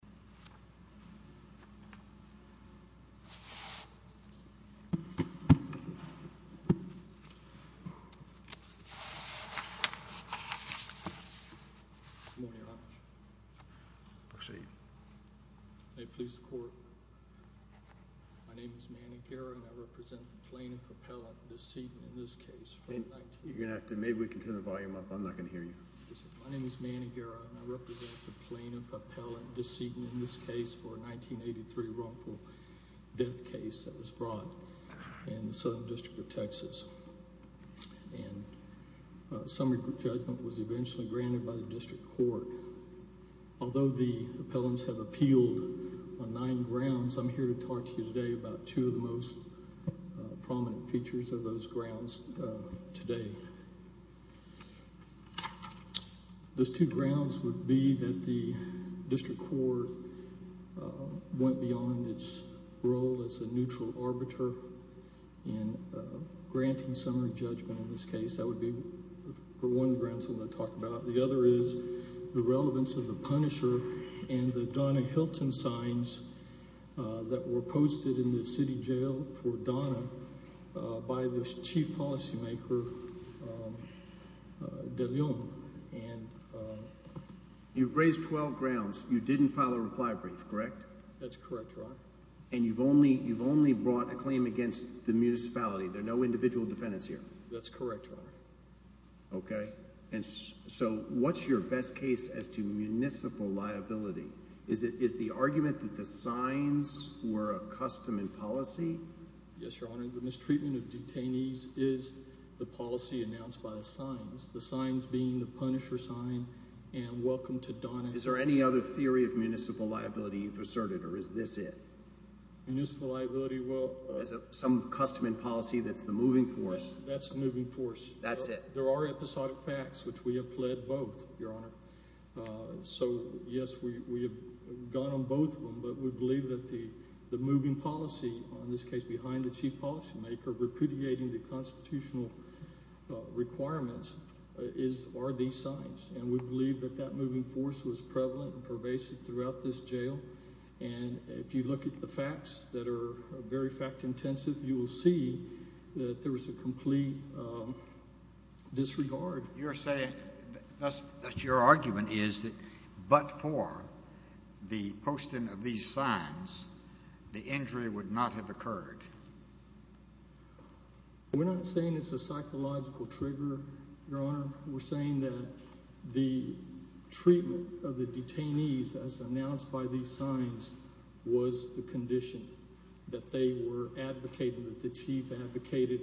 Good morning, Your Honor. Proceed. May it please the Court. My name is Manny Guerra and I represent the Plaintiff Appellant Decedent in this case. You're going to have to, maybe we can turn the volume up. I'm not going to hear you. My name is Manny Guerra and I represent the Plaintiff Appellant Decedent in this case for a 1983 wrongful death case that was brought in the Southern District of Texas. And a summary judgment was eventually granted by the District Court. Although the appellants have appealed on nine grounds, I'm here to talk to you today about two of the most prominent features of those grounds today. Those two grounds would be that the District Court went beyond its role as a neutral arbiter in granting summary judgment in this case. That would be one of the grounds I'm going to talk about. The other is the relevance of the Punisher and the Donna Hilton signs that were posted in the city jail for Donna by the Chief Policymaker De Leon. You've raised 12 grounds. You didn't file a reply brief, correct? That's correct, Your Honor. And you've only brought a claim against the municipality. There are no individual defendants here. That's correct, Your Honor. Okay. So what's your best case as to municipal liability? Is it the argument that the signs were a custom and policy? Yes, Your Honor. The mistreatment of detainees is the policy announced by the signs. The signs being the Punisher sign and Welcome to Donna. Is there any other theory of municipal liability you've asserted, or is this it? Municipal liability, well... Some custom and policy that's the moving force. That's the moving force. That's it. There are episodic facts, which we have pled both, Your Honor. So yes, we have gone on both of them, but we believe that the moving policy, in this case behind the Chief Policymaker, repudiating the constitutional requirements, are these signs. And we believe that that moving force was prevalent and pervasive throughout this jail. And if you look at the facts that are very fact-intensive, you will see that there was a complete disregard. You're saying that your argument is that but for the posting of these signs, the injury would not have occurred. We're not saying it's a psychological trigger, Your Honor. We're saying that the treatment of the detainees, as announced by these signs, was the condition that they were advocating, that the chief advocated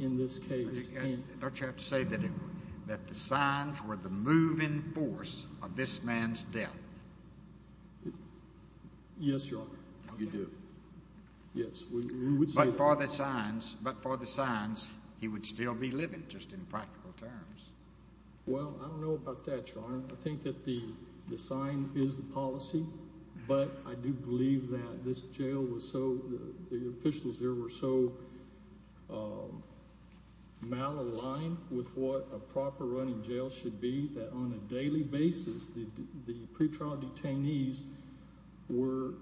in this case. Don't you have to say that the signs were the moving force of this man's death? Yes, Your Honor. You do? Yes. But for the signs, he would still be living, just in practical terms. Well, I don't know about that, Your Honor. I think that the sign is the policy, but I do believe that this jail was so the officials there were so malaligned with what a proper running jail should be that on a daily basis the pretrial detainees were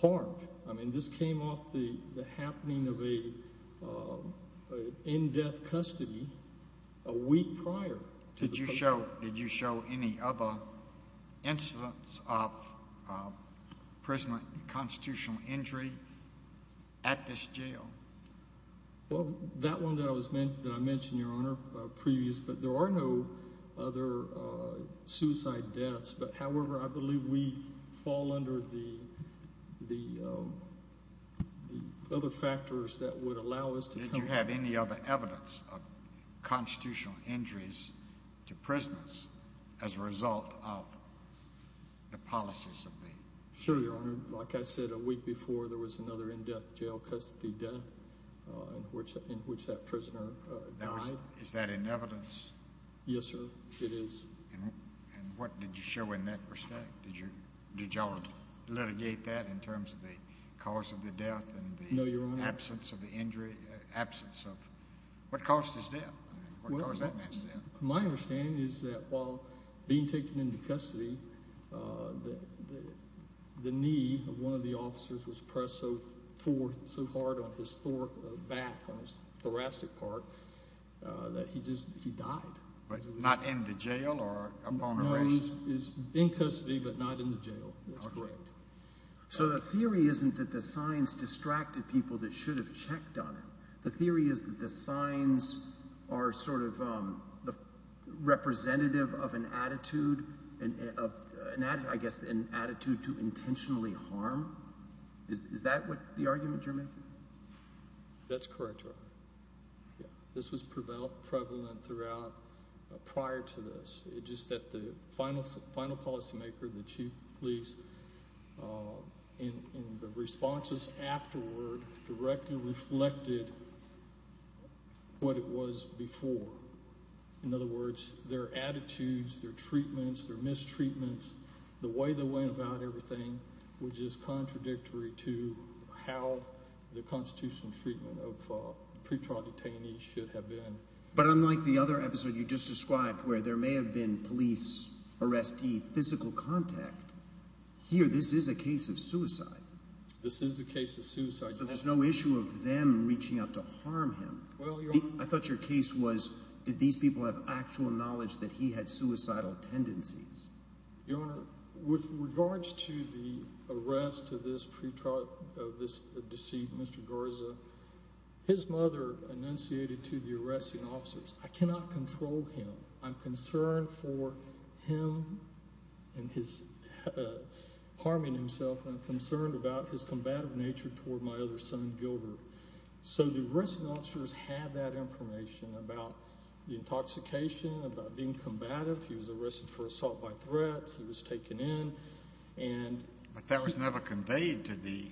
harmed. I mean this came off the happening of an in-death custody a week prior. Did you show any other incidents of prisoner constitutional injury at this jail? Well, that one that I mentioned, Your Honor, previous, but there are no other suicide deaths. However, I believe we fall under the other factors that would allow us to tell you that. Is there evidence of constitutional injuries to prisoners as a result of the policies of the jail? Sure, Your Honor. Like I said, a week before there was another in-death jail custody death in which that prisoner died. Is that in evidence? Yes, sir, it is. And what did you show in that respect? Did you all litigate that in terms of the cause of the death and the absence of the injury, the absence of what caused his death, what caused that man's death? My understanding is that while being taken into custody, the knee of one of the officers was pressed so hard on his thoracic part that he died. But not in the jail or upon arrest? No, he's in custody but not in the jail. That's correct. So the theory isn't that the signs distracted people that should have checked on him. The theory is that the signs are sort of representative of an attitude, I guess an attitude to intentionally harm. Is that the argument you're making? That's correct, Your Honor. This was prevalent throughout prior to this. It's just that the final policymaker, the chief of police, in the responses afterward directly reflected what it was before. In other words, their attitudes, their treatments, their mistreatments, the way they went about everything, was just contradictory to how the constitutional treatment of pretrial detainees should have been. But unlike the other episode you just described where there may have been police arrestee physical contact, here this is a case of suicide. This is a case of suicide. So there's no issue of them reaching out to harm him. I thought your case was did these people have actual knowledge that he had suicidal tendencies? Your Honor, with regards to the arrest of this deceit, Mr. Garza, his mother enunciated to the arresting officers, I cannot control him. I'm concerned for him and his harming himself. I'm concerned about his combative nature toward my other son, Gilbert. So the arresting officers had that information about the intoxication, about being combative. He was arrested for assault by threat. He was taken in. But that was never conveyed to the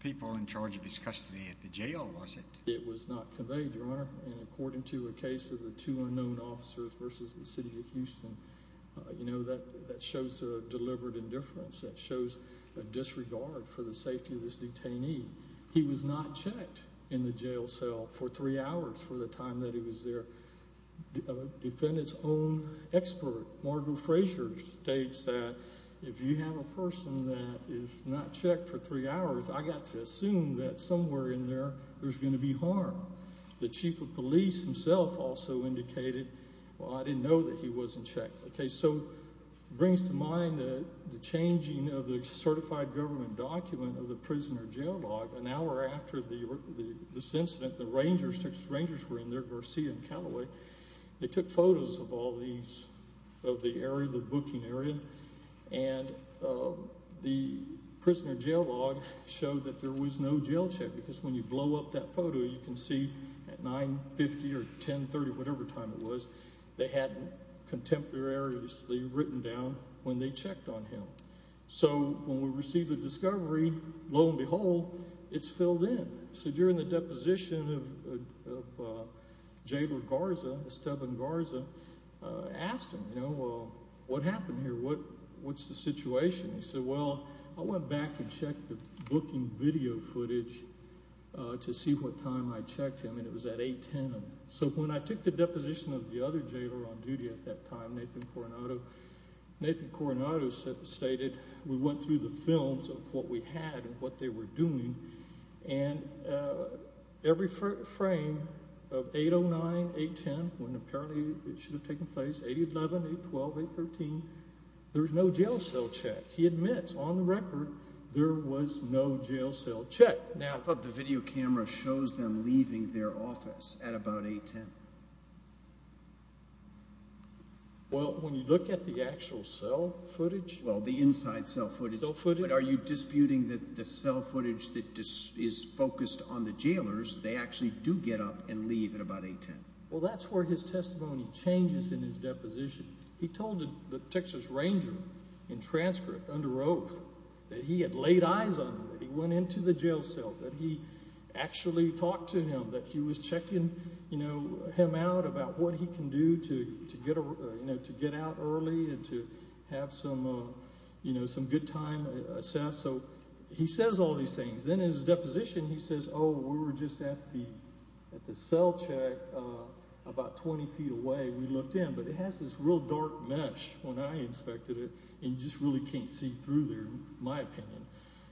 people in charge of his custody at the jail, was it? It was not conveyed, Your Honor. And according to a case of the two unknown officers versus the city of Houston, that shows a deliberate indifference. That shows a disregard for the safety of this detainee. He was not checked in the jail cell for three hours for the time that he was there. A defendant's own expert, Margo Frazier, states that if you have a person that is not checked for three hours, I've got to assume that somewhere in there there's going to be harm. The chief of police himself also indicated, well, I didn't know that he wasn't checked. Okay, so it brings to mind the changing of the certified government document of the prisoner jail law. An hour after this incident, the rangers were in there, Garcia and Callaway. They took photos of all these, of the area, the booking area, and the prisoner jail law showed that there was no jail check because when you blow up that photo, you can see at 9, 50, or 10, 30, whatever time it was, they had contemporaneously written down when they checked on him. So when we received the discovery, lo and behold, it's filled in. So during the deposition of Jailor Garza, Esteban Garza, I asked him, you know, well, what happened here? What's the situation? He said, well, I went back and checked the booking video footage to see what time I checked him, and it was at 8, 10. So when I took the deposition of the other jailor on duty at that time, Nathan Coronado, Nathan Coronado stated we went through the films of what we had and what they were doing, and every frame of 8, 09, 8, 10, when apparently it should have taken place, 8, 11, 8, 12, 8, 13, there was no jail cell check. He admits on the record there was no jail cell check. I thought the video camera shows them leaving their office at about 8, 10. Well, when you look at the actual cell footage. Well, the inside cell footage. Cell footage. But are you disputing that the cell footage that is focused on the jailors, they actually do get up and leave at about 8, 10? Well, that's where his testimony changes in his deposition. He told the Texas Ranger in transcript under oath that he had laid eyes on him, that he went into the jail cell, that he actually talked to him, that he was checking him out about what he can do to get out early and to have some good time. So he says all these things. Then in his deposition he says, oh, we were just at the cell check about 20 feet away. We looked in, but it has this real dark mesh when I inspected it, and you just really can't see through there, in my opinion.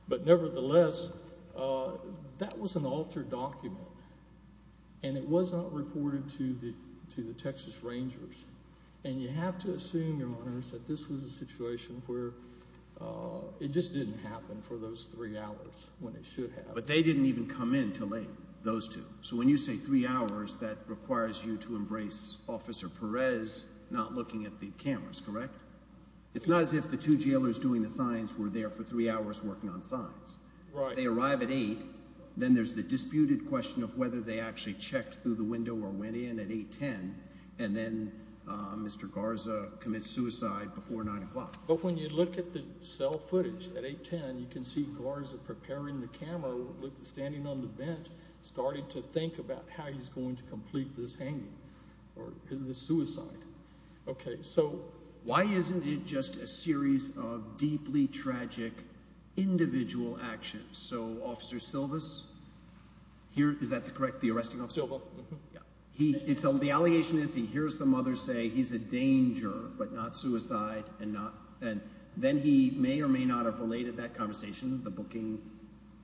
But nevertheless, that was an altered document, and it was not reported to the Texas Rangers. And you have to assume, Your Honors, that this was a situation where it just didn't happen for those three hours when it should have. But they didn't even come in till late, those two. So when you say three hours, that requires you to embrace Officer Perez not looking at the cameras, correct? It's not as if the two jailers doing the signs were there for three hours working on signs. If they arrive at 8, then there's the disputed question of whether they actually checked through the window or went in at 810, and then Mr. Garza commits suicide before 9 o'clock. But when you look at the cell footage at 810, you can see Garza preparing the camera, standing on the bench, starting to think about how he's going to complete this hanging or this suicide. Okay, so why isn't it just a series of deeply tragic individual actions? So Officer Silvas, is that correct, the arresting officer? Silva. The allegation is he hears the mother say he's a danger, but not suicide. And then he may or may not have related that conversation. The booking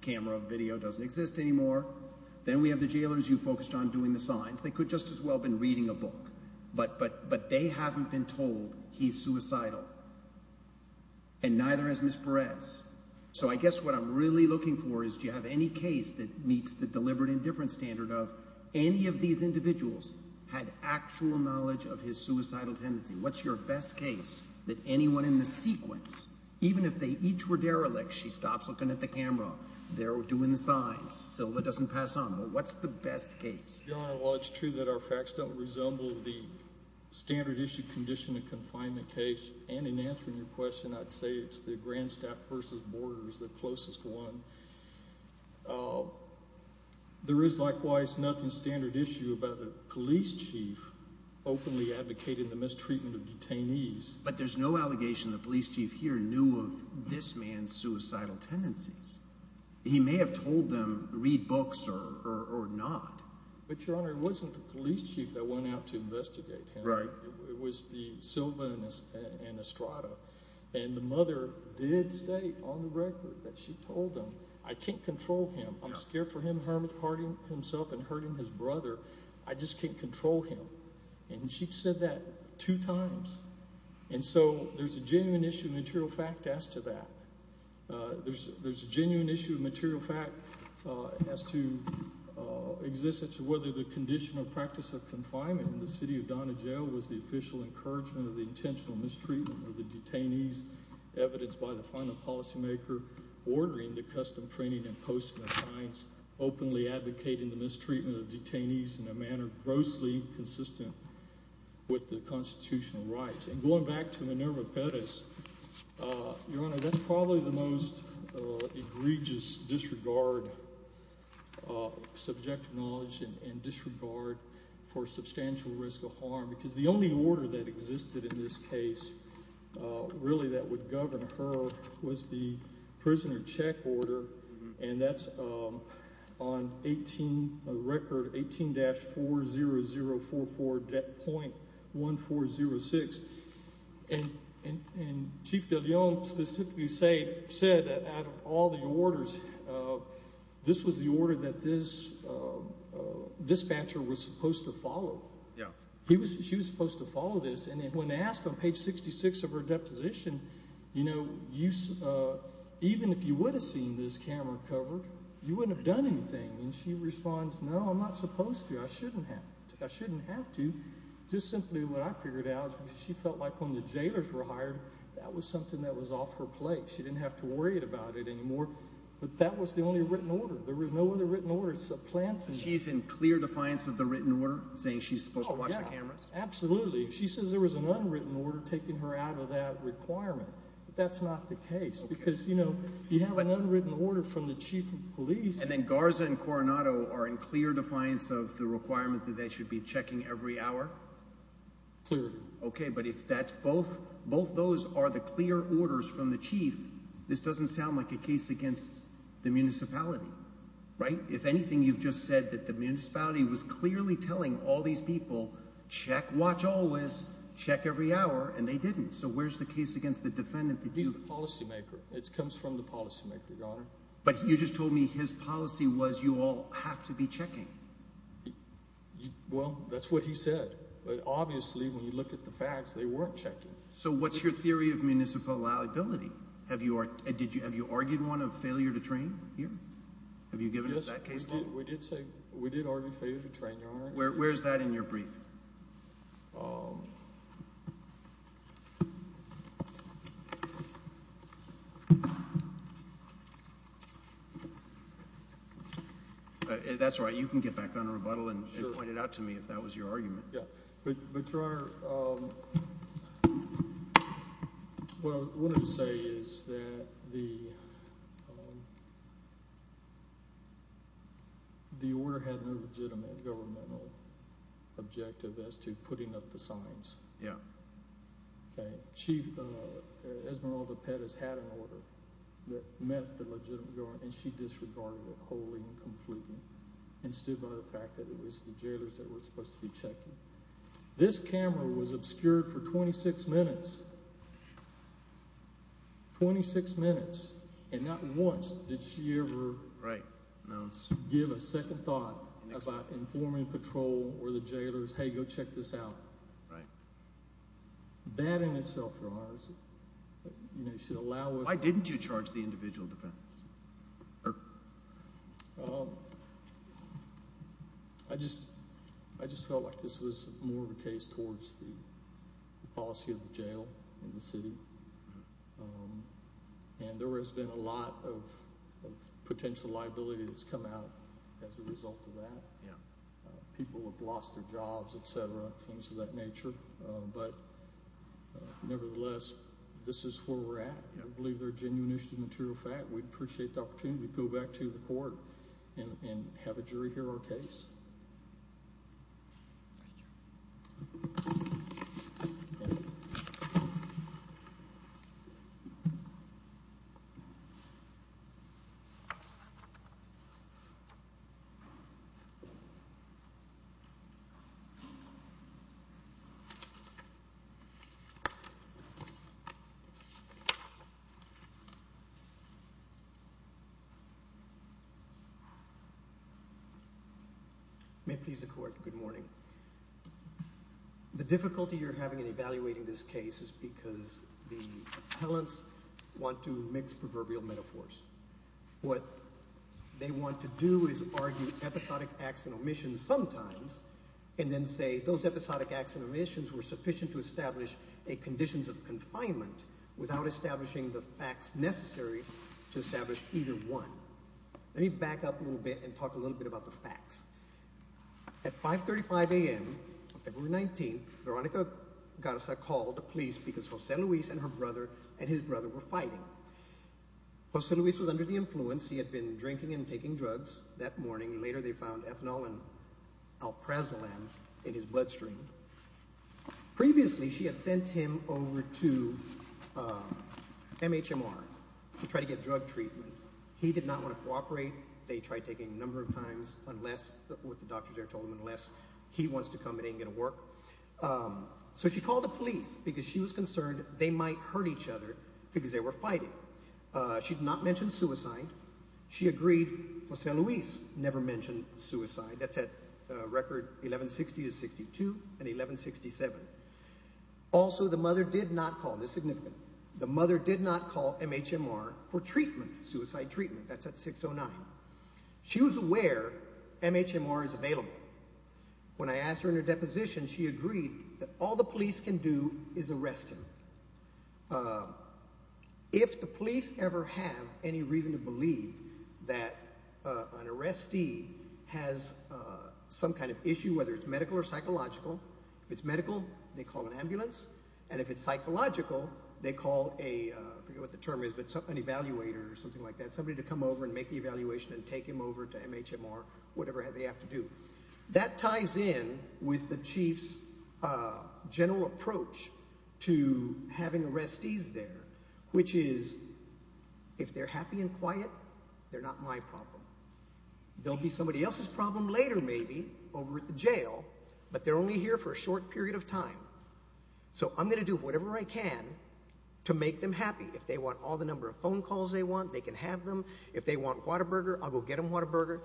camera video doesn't exist anymore. Then we have the jailers, you focused on doing the signs. They could just as well have been reading a book. But they haven't been told he's suicidal, and neither has Ms. Perez. So I guess what I'm really looking for is do you have any case that meets the deliberate indifference standard of any of these individuals had actual knowledge of his suicidal tendency? What's your best case that anyone in the sequence, even if they each were derelict, she stops looking at the camera, they're doing the signs, Silva doesn't pass on. What's the best case? Your Honor, while it's true that our facts don't resemble the standard issue condition of confinement case, and in answering your question, I'd say it's the Grandstaff versus Borders, the closest one. There is likewise nothing standard issue about the police chief openly advocating the mistreatment of detainees. But there's no allegation the police chief here knew of this man's suicidal tendencies. He may have told them read books or not. But, Your Honor, it wasn't the police chief that went out to investigate him. It was Silva and Estrada. And the mother did state on the record that she told them, I can't control him. I'm scared for him hurting himself and hurting his brother. I just can't control him. And she said that two times. And so there's a genuine issue of material fact as to that. There's a genuine issue of material fact as to existence of whether the conditional practice of confinement in the city of Donahoe Jail was the official encouragement of the intentional mistreatment of the detainees, evidenced by the final policymaker ordering the custom training and posting of signs, openly advocating the mistreatment of detainees in a manner grossly consistent with the constitutional rights. And going back to Minerva Perez, Your Honor, that's probably the most egregious disregard, subjective knowledge and disregard for substantial risk of harm, because the only order that existed in this case really that would govern her was the prisoner check order. And that's on record 18-40044.1406. And Chief de Leon specifically said that out of all the orders, this was the order that this dispatcher was supposed to follow. She was supposed to follow this. And when asked on page 66 of her deposition, you know, even if you would have seen this camera covered, you wouldn't have done anything. And she responds, no, I'm not supposed to. I shouldn't have. I shouldn't have to. Just simply what I figured out is she felt like when the jailers were hired, that was something that was off her plate. She didn't have to worry about it anymore. But that was the only written order. There was no other written order. It's a planned thing. She's in clear defiance of the written order, saying she's supposed to watch the cameras? Oh, yeah, absolutely. She says there was an unwritten order taking her out of that requirement. But that's not the case because, you know, you have an unwritten order from the chief of police. And then Garza and Coronado are in clear defiance of the requirement that they should be checking every hour? Clearly. Okay. But if both those are the clear orders from the chief, this doesn't sound like a case against the municipality, right? If anything, you've just said that the municipality was clearly telling all these people, check, watch always, check every hour, and they didn't. So where's the case against the defendant? He's the policymaker. It comes from the policymaker, Your Honor. But you just told me his policy was you all have to be checking. Well, that's what he said. But obviously when you look at the facts, they weren't checking. So what's your theory of municipal liability? Have you argued one of failure to train here? Have you given us that case law? We did argue failure to train, Your Honor. Where is that in your brief? That's right. You can get back on a rebuttal and point it out to me if that was your argument. But, Your Honor, what I wanted to say is that the order had no legitimate governmental objective as to putting up the signs. Yeah. Okay. Chief Esmeralda Pettis had an order that met the legitimate government, and she disregarded it wholly and completely and stood by the fact that it was the jailors that were supposed to be checking. This camera was obscured for 26 minutes, 26 minutes, and not once did she ever give a second thought about informing patrol or the jailors, hey, go check this out. Right. That in itself, Your Honor, should allow us to Why didn't you charge the individual defendants? I just felt like this was more of a case towards the policy of the jail in the city, and there has been a lot of potential liability that's come out as a result of that. People have lost their jobs, et cetera, things of that nature. But, nevertheless, this is where we're at. I believe they're a genuine issue of material fact. We'd appreciate the opportunity to go back to the court and have a jury hear our case. Thank you. May it please the court, good morning. The difficulty you're having in evaluating this case is because the appellants want to mix proverbial metaphors. What they want to do is argue episodic acts and omissions sometimes and then say those episodic acts and omissions were sufficient to establish a conditions of confinement without establishing the facts necessary to establish either one. Let me back up a little bit and talk a little bit about the facts. At 5.35 a.m. on February 19th, Veronica Garza called the police because Jose Luis and her brother and his brother were fighting. Jose Luis was under the influence. He had been drinking and taking drugs that morning. Later, they found ethanol and alprazolam in his bloodstream. Previously, she had sent him over to MHMR to try to get drug treatment. He did not want to cooperate. They tried taking a number of times, what the doctors there told them, unless he wants to come, it ain't going to work. So she called the police because she was concerned they might hurt each other because they were fighting. She did not mention suicide. She agreed Jose Luis never mentioned suicide. That's at record 1160 to 62 and 1167. Also, the mother did not call. This is significant. The mother did not call MHMR for treatment, suicide treatment. That's at 609. She was aware MHMR is available. When I asked her in her deposition, she agreed that all the police can do is arrest him. If the police ever have any reason to believe that an arrestee has some kind of issue, whether it's medical or psychological, if it's medical, they call an ambulance, and if it's psychological, they call an evaluator or something like that, somebody to come over and make the evaluation and take him over to MHMR, whatever they have to do. That ties in with the chief's general approach to having arrestees there, which is if they're happy and quiet, they're not my problem. They'll be somebody else's problem later maybe over at the jail, but they're only here for a short period of time. So I'm going to do whatever I can to make them happy. If they want all the number of phone calls they want, they can have them. If they want Whataburger, I'll go get them Whataburger.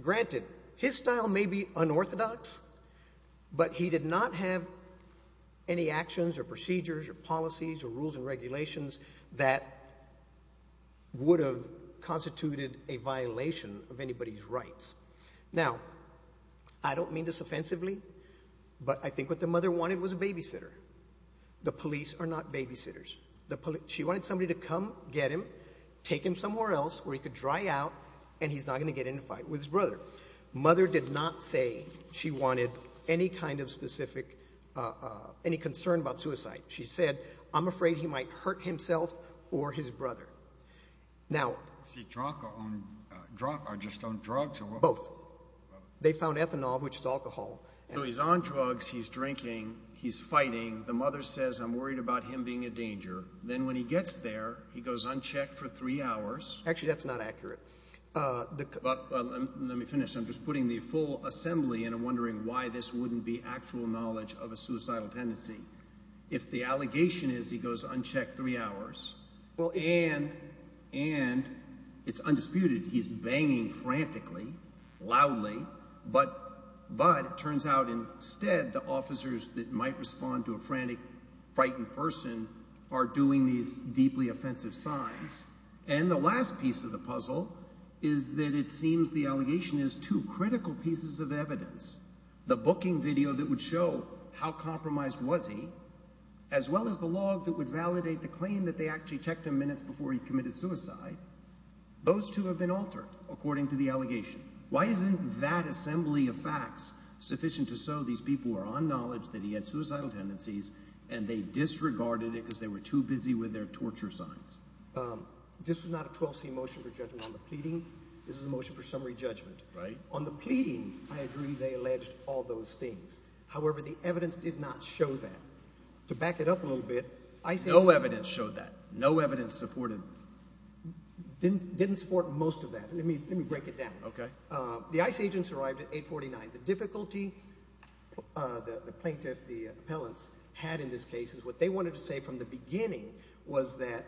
Granted, his style may be unorthodox, but he did not have any actions or procedures or policies or rules and regulations that would have constituted a violation of anybody's rights. Now, I don't mean this offensively, but I think what the mother wanted was a babysitter. The police are not babysitters. She wanted somebody to come get him, take him somewhere else where he could dry out, and he's not going to get in a fight with his brother. Mother did not say she wanted any kind of specific concern about suicide. She said, I'm afraid he might hurt himself or his brother. Now— Is he drunk or just on drugs? Both. They found ethanol, which is alcohol. So he's on drugs, he's drinking, he's fighting. The mother says, I'm worried about him being a danger. Then when he gets there, he goes unchecked for three hours. Actually, that's not accurate. Let me finish. I'm just putting the full assembly and I'm wondering why this wouldn't be actual knowledge of a suicidal tendency. If the allegation is he goes unchecked three hours and it's undisputed he's banging frantically, loudly, but it turns out instead the officers that might respond to a frantic, frightened person are doing these deeply offensive signs. And the last piece of the puzzle is that it seems the allegation is two critical pieces of evidence, the booking video that would show how compromised was he, as well as the log that would validate the claim that they actually checked him minutes before he committed suicide. Those two have been altered according to the allegation. Why isn't that assembly of facts sufficient to show these people were on knowledge that he had suicidal tendencies and they disregarded it because they were too busy with their torture signs? This is not a 12C motion for judgment on the pleadings. This is a motion for summary judgment. On the pleadings, I agree they alleged all those things. However, the evidence did not show that. To back it up a little bit, ICE agents… No evidence showed that. No evidence supported… Didn't support most of that. Let me break it down. Okay. The ICE agents arrived at 849. The difficulty the plaintiff, the appellants, had in this case is what they wanted to say from the beginning was that,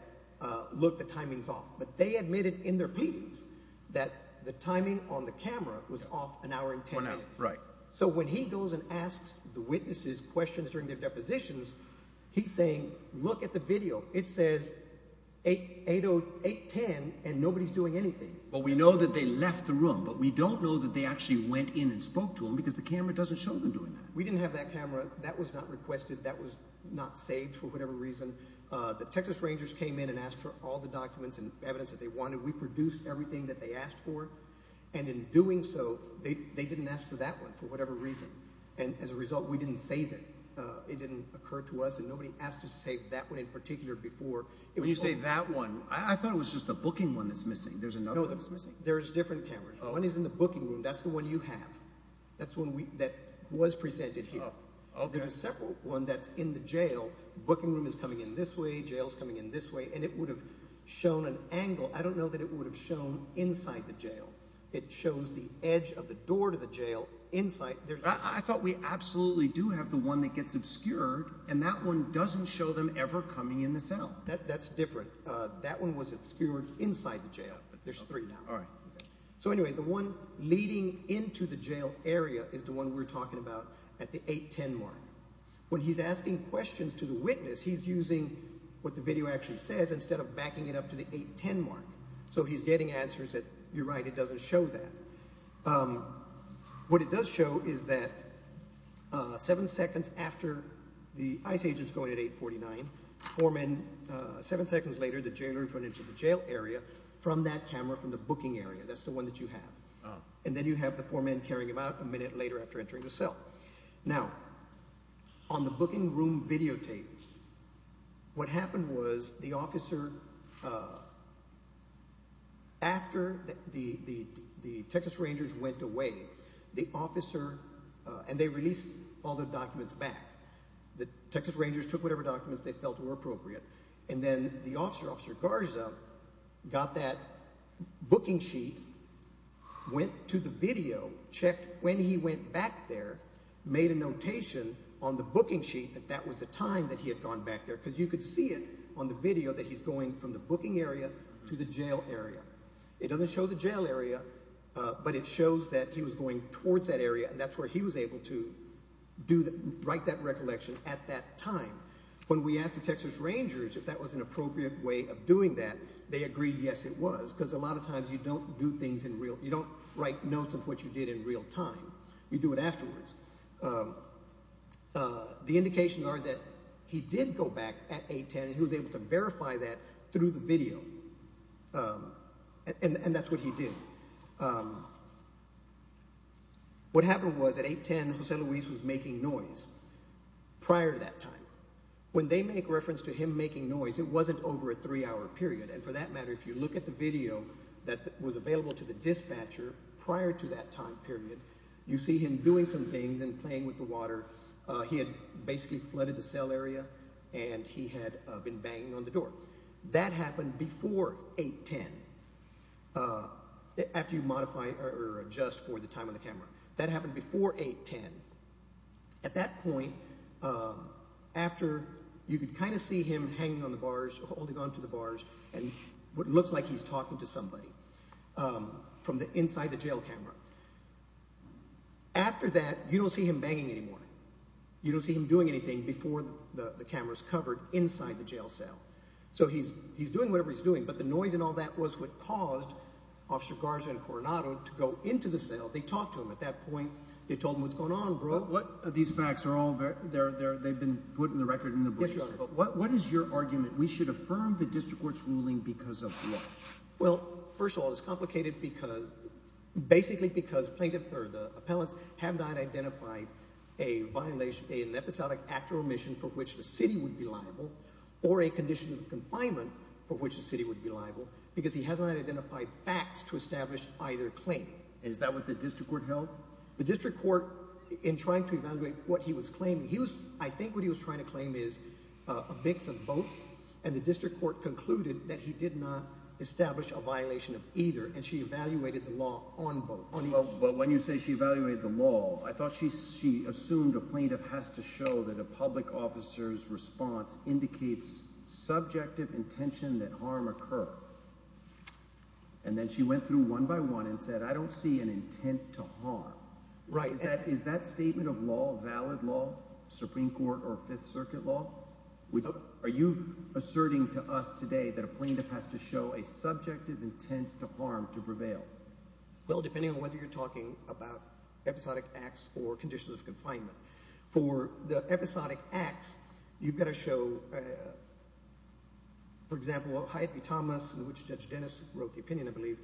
look, the timing's off. But they admitted in their pleadings that the timing on the camera was off an hour and ten minutes. Right. So when he goes and asks the witnesses questions during their depositions, he's saying, look at the video. It says 810 and nobody's doing anything. Well, we know that they left the room, but we don't know that they actually went in and spoke to him because the camera doesn't show them doing that. We didn't have that camera. That was not requested. That was not saved for whatever reason. The Texas Rangers came in and asked for all the documents and evidence that they wanted. We produced everything that they asked for, and in doing so, they didn't ask for that one for whatever reason. And as a result, we didn't save it. It didn't occur to us, and nobody asked us to save that one in particular before. When you say that one, I thought it was just the booking one that's missing. There's another one that's missing. No, there's different cameras. One is in the booking room. That's the one you have. That's the one that was presented here. There's a separate one that's in the jail. Booking room is coming in this way. Jail is coming in this way, and it would have shown an angle. I don't know that it would have shown inside the jail. It shows the edge of the door to the jail inside. I thought we absolutely do have the one that gets obscured, and that one doesn't show them ever coming in the cell. That's different. All right. So, anyway, the one leading into the jail area is the one we're talking about at the 810 mark. When he's asking questions to the witness, he's using what the video actually says instead of backing it up to the 810 mark. So he's getting answers that, you're right, it doesn't show that. What it does show is that seven seconds after the ICE agent's going at 849, four men – seven seconds later, the jailers run into the jail area from that camera from the booking area. That's the one that you have. And then you have the four men carrying him out a minute later after entering the cell. Now, on the booking room videotape, what happened was the officer – after the Texas Rangers went away, the officer – and they released all the documents back. The Texas Rangers took whatever documents they felt were appropriate. And then the officer, Officer Garza, got that booking sheet, went to the video, checked when he went back there, made a notation on the booking sheet that that was the time that he had gone back there because you could see it on the video that he's going from the booking area to the jail area. It doesn't show the jail area, but it shows that he was going towards that area, and that's where he was able to write that recollection at that time. When we asked the Texas Rangers if that was an appropriate way of doing that, they agreed yes, it was, because a lot of times you don't do things in real – you don't write notes of what you did in real time. You do it afterwards. The indications are that he did go back at 810. He was able to verify that through the video, and that's what he did. What happened was at 810, Jose Luis was making noise prior to that time. When they make reference to him making noise, it wasn't over a three-hour period. And for that matter, if you look at the video that was available to the dispatcher prior to that time period, you see him doing some things and playing with the water. He had basically flooded the cell area, and he had been banging on the door. That happened before 810, after you modify or adjust for the time on the camera. That happened before 810. At that point, after – you could kind of see him hanging on the bars, holding on to the bars, and it looks like he's talking to somebody from inside the jail camera. After that, you don't see him banging anymore. You don't see him doing anything before the camera is covered inside the jail cell. So he's doing whatever he's doing, but the noise and all that was what caused Officer Garza and Coronado to go into the cell. They talked to him at that point. They told him what's going on, bro. These facts are all – they've been put in the record in the brochure. Yes, Your Honor. But what is your argument? We should affirm the district court's ruling because of what? Well, first of all, it's complicated because – basically because plaintiff or the appellants have not identified a violation, an episodic act or omission for which the city would be liable or a condition of confinement for which the city would be liable because he has not identified facts to establish either claim. And is that what the district court held? The district court, in trying to evaluate what he was claiming, he was – I think what he was trying to claim is a mix of both, and the district court concluded that he did not establish a violation of either, and she evaluated the law on both. Well, when you say she evaluated the law, I thought she assumed a plaintiff has to show that a public officer's response indicates subjective intention that harm occurred. And then she went through one by one and said, I don't see an intent to harm. Right. Is that statement of law valid law, Supreme Court or Fifth Circuit law? Are you asserting to us today that a plaintiff has to show a subjective intent to harm to prevail? Well, depending on whether you're talking about episodic acts or conditions of confinement. For the episodic acts, you've got to show, for example, Hyatt v. Thomas, in which Judge Dennis wrote the opinion, I believe,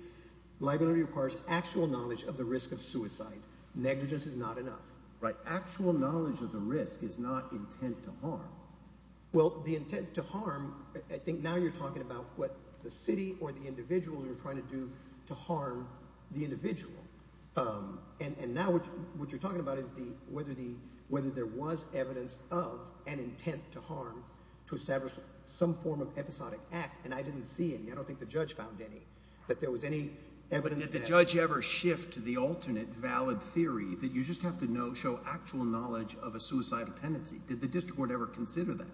liability requires actual knowledge of the risk of suicide. Negligence is not enough. Right. Actual knowledge of the risk is not intent to harm. Well, the intent to harm, I think now you're talking about what the city or the individual you're trying to do to harm the individual. And now what you're talking about is whether there was evidence of an intent to harm to establish some form of episodic act. And I didn't see any. I don't think the judge found any, that there was any evidence. Did the judge ever shift to the alternate valid theory that you just have to show actual knowledge of a suicidal tendency? Did the district court ever consider that?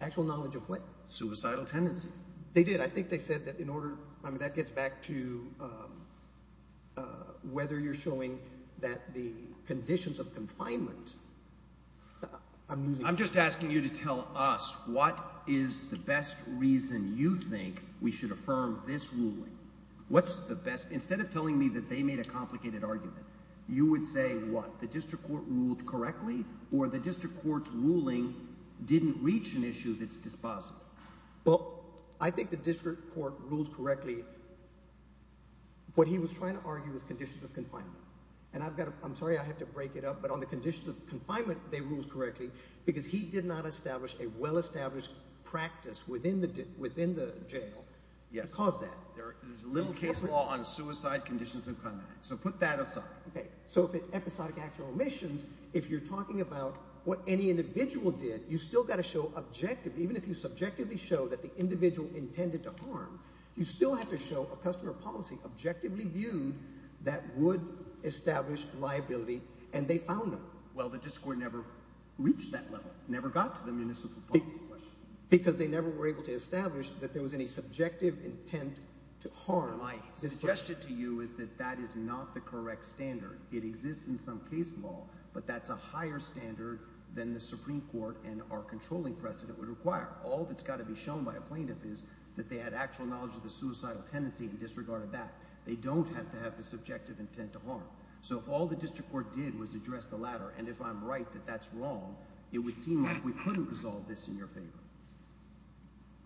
Actual knowledge of what? Suicidal tendency. They did. I think they said that in order – that gets back to whether you're showing that the conditions of confinement – I'm just asking you to tell us what is the best reason you think we should affirm this ruling. What's the best – instead of telling me that they made a complicated argument, you would say what? The district court ruled correctly or the district court's ruling didn't reach an issue that's dispositive? Well, I think the district court ruled correctly. What he was trying to argue was conditions of confinement. And I've got to – I'm sorry I have to break it up, but on the conditions of confinement, they ruled correctly because he did not establish a well-established practice within the jail. Yes. They didn't cause that. There's little case law on suicide conditions of confinement, so put that aside. Okay. So if it's episodic actual omissions, if you're talking about what any individual did, you've still got to show objective – even if you subjectively show that the individual intended to harm, you still have to show a customer policy objectively viewed that would establish liability, and they found them. Well, the district court never reached that level, never got to the municipal policy question. Because they never were able to establish that there was any subjective intent to harm. My suggestion to you is that that is not the correct standard. It exists in some case law, but that's a higher standard than the Supreme Court and our controlling precedent would require. All that's got to be shown by a plaintiff is that they had actual knowledge of the suicidal tendency and disregarded that. They don't have to have the subjective intent to harm. So if all the district court did was address the latter, and if I'm right that that's wrong, it would seem like we couldn't resolve this in your favor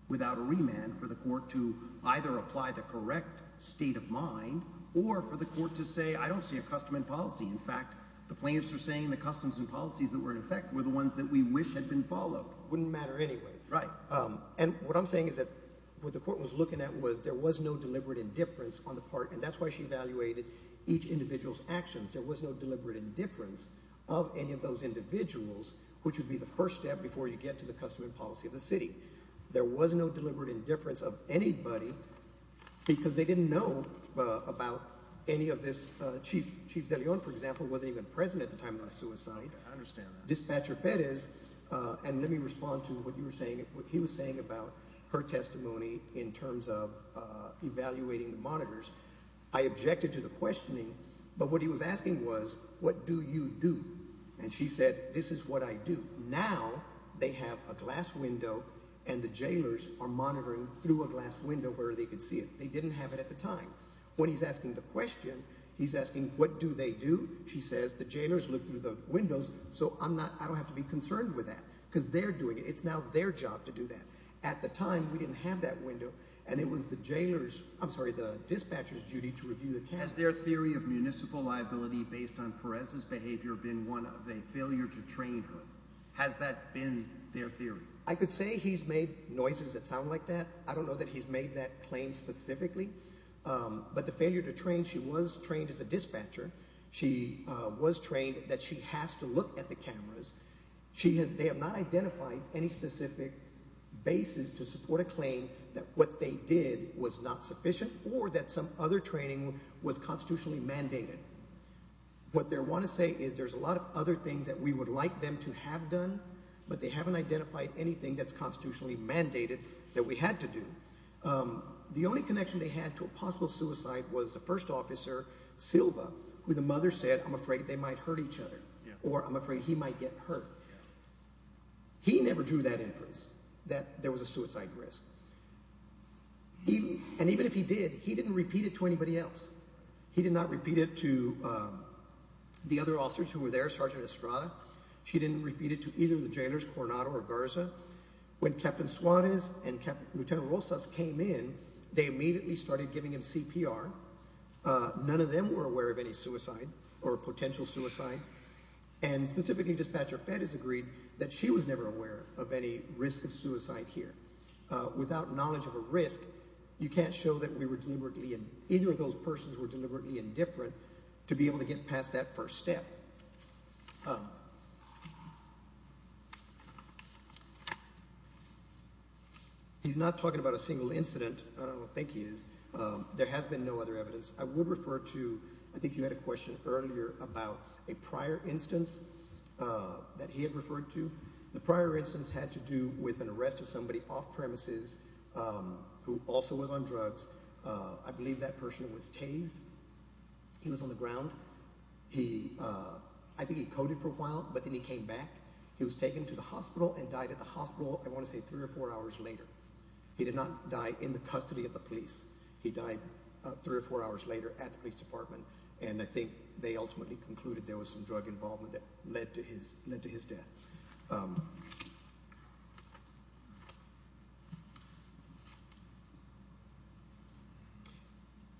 without a remand for the court to either apply the correct state of mind or for the court to say, I don't see a customer policy. In fact, the plaintiffs are saying the customs and policies that were in effect were the ones that we wish had been followed. Wouldn't matter anyway. Right. And what I'm saying is that what the court was looking at was there was no deliberate indifference on the part, and that's why she evaluated each individual's actions. There was no deliberate indifference of any of those individuals, which would be the first step before you get to the custom and policy of the city. There was no deliberate indifference of anybody because they didn't know about any of this. Chief De Leon, for example, wasn't even present at the time of the suicide. I understand that. And let me respond to what you were saying, what he was saying about her testimony in terms of evaluating monitors. I objected to the questioning. But what he was asking was, what do you do? And she said, this is what I do. Now they have a glass window and the jailers are monitoring through a glass window where they can see it. They didn't have it at the time. When he's asking the question, he's asking, what do they do? She says, the jailers look through the windows, so I don't have to be concerned with that because they're doing it. It's now their job to do that. At the time, we didn't have that window, and it was the jailers – I'm sorry, the dispatchers' duty to review the cameras. Has their theory of municipal liability based on Perez's behavior been one of a failure to train her? Has that been their theory? I could say he's made noises that sound like that. I don't know that he's made that claim specifically. But the failure to train – she was trained as a dispatcher. She was trained that she has to look at the cameras. They have not identified any specific basis to support a claim that what they did was not sufficient or that some other training was constitutionally mandated. What they want to say is there's a lot of other things that we would like them to have done, but they haven't identified anything that's constitutionally mandated that we had to do. The only connection they had to a possible suicide was the first officer, Silva, who the mother said, I'm afraid they might hurt each other or I'm afraid he might get hurt. He never drew that inference that there was a suicide risk. And even if he did, he didn't repeat it to anybody else. He did not repeat it to the other officers who were there, Sergeant Estrada. She didn't repeat it to either of the jailers, Coronado or Garza. When Captain Suarez and Lieutenant Rosas came in, they immediately started giving him CPR. None of them were aware of any suicide or potential suicide. And specifically, Dispatcher Feddes agreed that she was never aware of any risk of suicide here. Without knowledge of a risk, you can't show that we were deliberately – either of those persons were deliberately indifferent to be able to get past that first step. He's not talking about a single incident. I don't think he is. There has been no other evidence. I would refer to – I think you had a question earlier about a prior instance that he had referred to. The prior instance had to do with an arrest of somebody off premises who also was on drugs. I believe that person was tased. He was on the ground. He – I think he coded for a while, but then he came back. He was taken to the hospital and died at the hospital, I want to say, three or four hours later. He did not die in the custody of the police. He died three or four hours later at the police department, and I think they ultimately concluded there was some drug involvement that led to his death.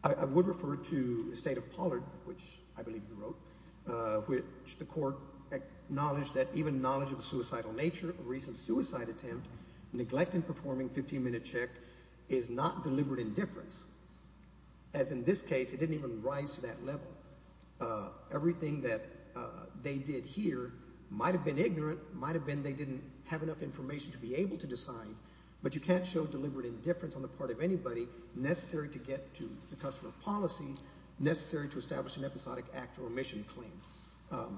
I would refer to the State of Pollard, which I believe you wrote, which the court acknowledged that even knowledge of the suicidal nature of a recent suicide attempt, neglect in performing a 15-minute check, is not deliberate indifference. As in this case, it didn't even rise to that level. Everything that they did here might have been ignorant, might have been they didn't have enough information to be able to decide, but you can't show deliberate indifference on the part of anybody necessary to get to the customer policy, necessary to establish an episodic act or remission claim.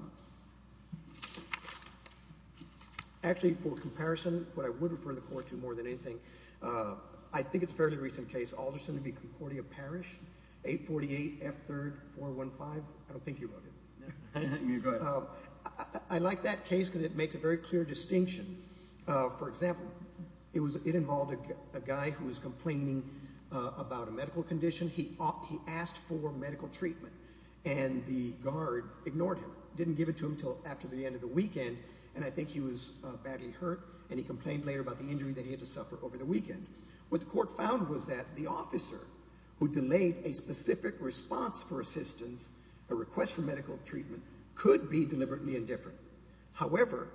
Actually, for comparison, what I would refer the court to more than anything, I think it's a fairly recent case, Alderson v. Concordia Parish, 848 F. 3rd 415. I don't think you wrote it. I like that case because it makes a very clear distinction. For example, it involved a guy who was complaining about a medical condition. He asked for medical treatment, and the guard ignored him, didn't give it to him until after the end of the weekend, and I think he was badly hurt, and he complained later about the injury that he had to suffer over the weekend. What the court found was that the officer who delayed a specific response for assistance, a request for medical treatment, could be deliberately indifferent. However,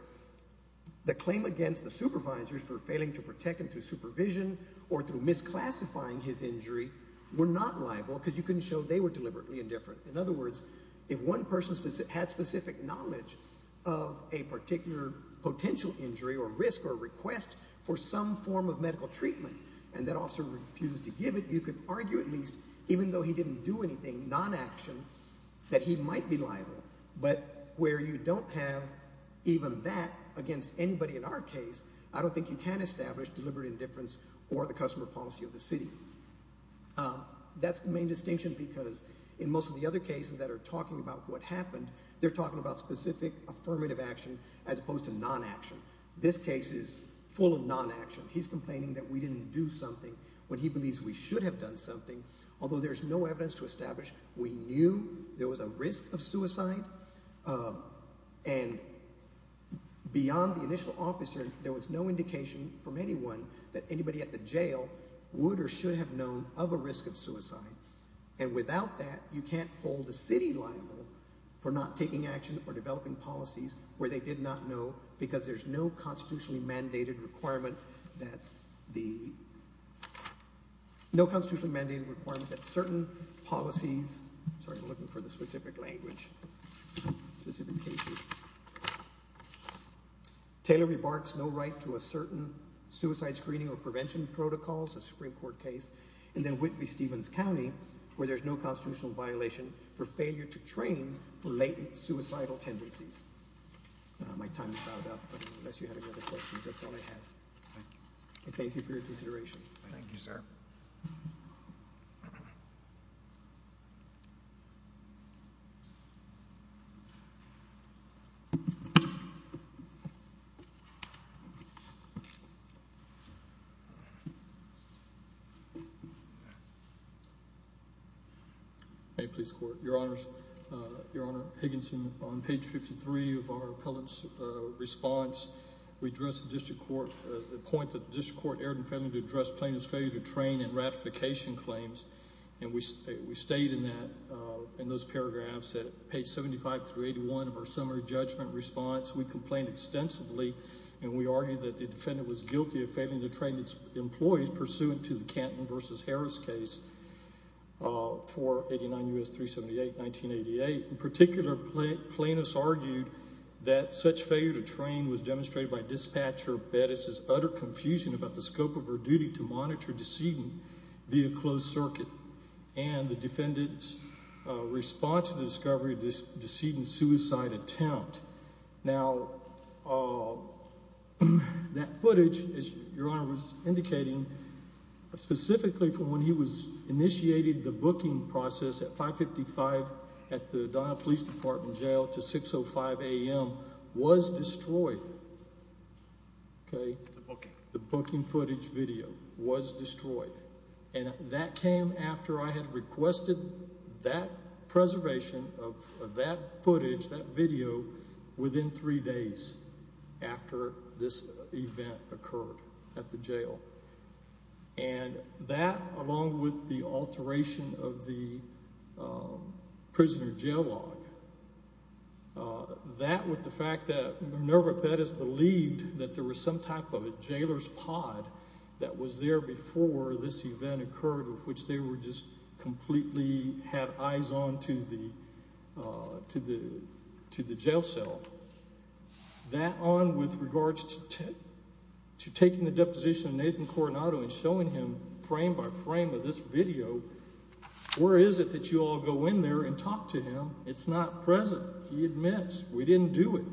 the claim against the supervisors for failing to protect him through supervision or through misclassifying his injury were not liable because you couldn't show they were deliberately indifferent. In other words, if one person had specific knowledge of a particular potential injury or risk or request for some form of medical treatment and that officer refused to give it, you could argue at least, even though he didn't do anything non-action, that he might be liable. But where you don't have even that against anybody in our case, I don't think you can establish deliberate indifference or the customer policy of the city. That's the main distinction because in most of the other cases that are talking about what happened, they're talking about specific affirmative action as opposed to non-action. This case is full of non-action. He's complaining that we didn't do something when he believes we should have done something. Although there's no evidence to establish we knew there was a risk of suicide, and beyond the initial officer, there was no indication from anyone that anybody at the jail would or should have known of a risk of suicide. And without that, you can't hold the city liable for not taking action or developing policies where they did not know because there's no constitutionally mandated requirement that certain policies – sorry, I'm looking for the specific language, specific cases. Taylor remarks no right to a certain suicide screening or prevention protocols, a Supreme Court case, and then Whitley-Stevens County where there's no constitutional violation for failure to train for latent suicidal tendencies. My time is about up, but unless you have any other questions, that's all I have. Thank you for your consideration. Thank you, sir. May it please the Court. Your Honors, Your Honor, Higginson, on page 53 of our appellant's response, we address the point that the district court erred in failing to address plaintiff's failure to train and ratification claims, and we state in that, in those paragraphs, at page 75 through 81 of our summary judgment response, we complained extensively and we argued that the defendant was guilty of failing to train its employees pursuant to the Canton v. Harris case for 89 U.S. 378, 1988. In particular, plaintiffs argued that such failure to train was demonstrated by dispatcher Bettis's utter confusion about the scope of her duty to monitor decedent via closed circuit and the defendant's response to the discovery of the decedent's suicide attempt. Now, that footage, as Your Honor was indicating, specifically from when he initiated the booking process at 555 at the Donnell Police Department Jail to 605 A.M., was destroyed, okay? The booking. The booking footage video was destroyed. And that came after I had requested that preservation of that footage, that video, within three days after this event occurred at the jail. And that, along with the alteration of the prisoner jail log, that with the fact that Minerva Bettis believed that there was some type of a jailer's pod that was there before this event occurred, which they were just completely had eyes on to the jail cell, that on with regards to taking the deposition of Nathan Coronado and showing him frame by frame of this video, where is it that you all go in there and talk to him? It's not present. He admits, we didn't do it.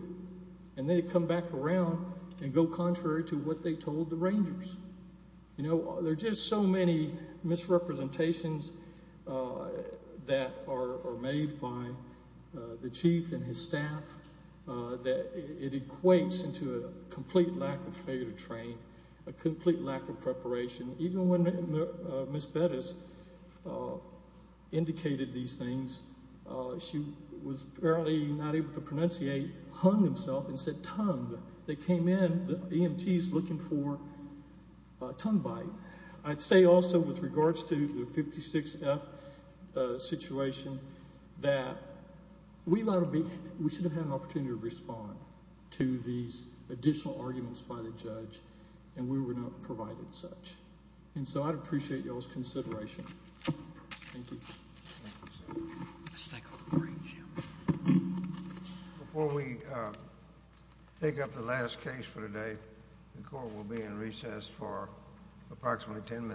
And they come back around and go contrary to what they told the Rangers. You know, there are just so many misrepresentations that are made by the chief and his staff that it equates into a complete lack of fair trade, a complete lack of preparation. Even when Ms. Bettis indicated these things, she was barely not able to pronunciate, hung himself and said, tongue. They came in, the EMT is looking for a tongue bite. I'd say also with regards to the 56F situation, that we should have had an opportunity to respond to these additional arguments by the judge, and we were not provided such. And so I'd appreciate y'all's consideration. Thank you. Let's take a break. Before we pick up the last case for today, the court will be in recess for approximately 10 minutes.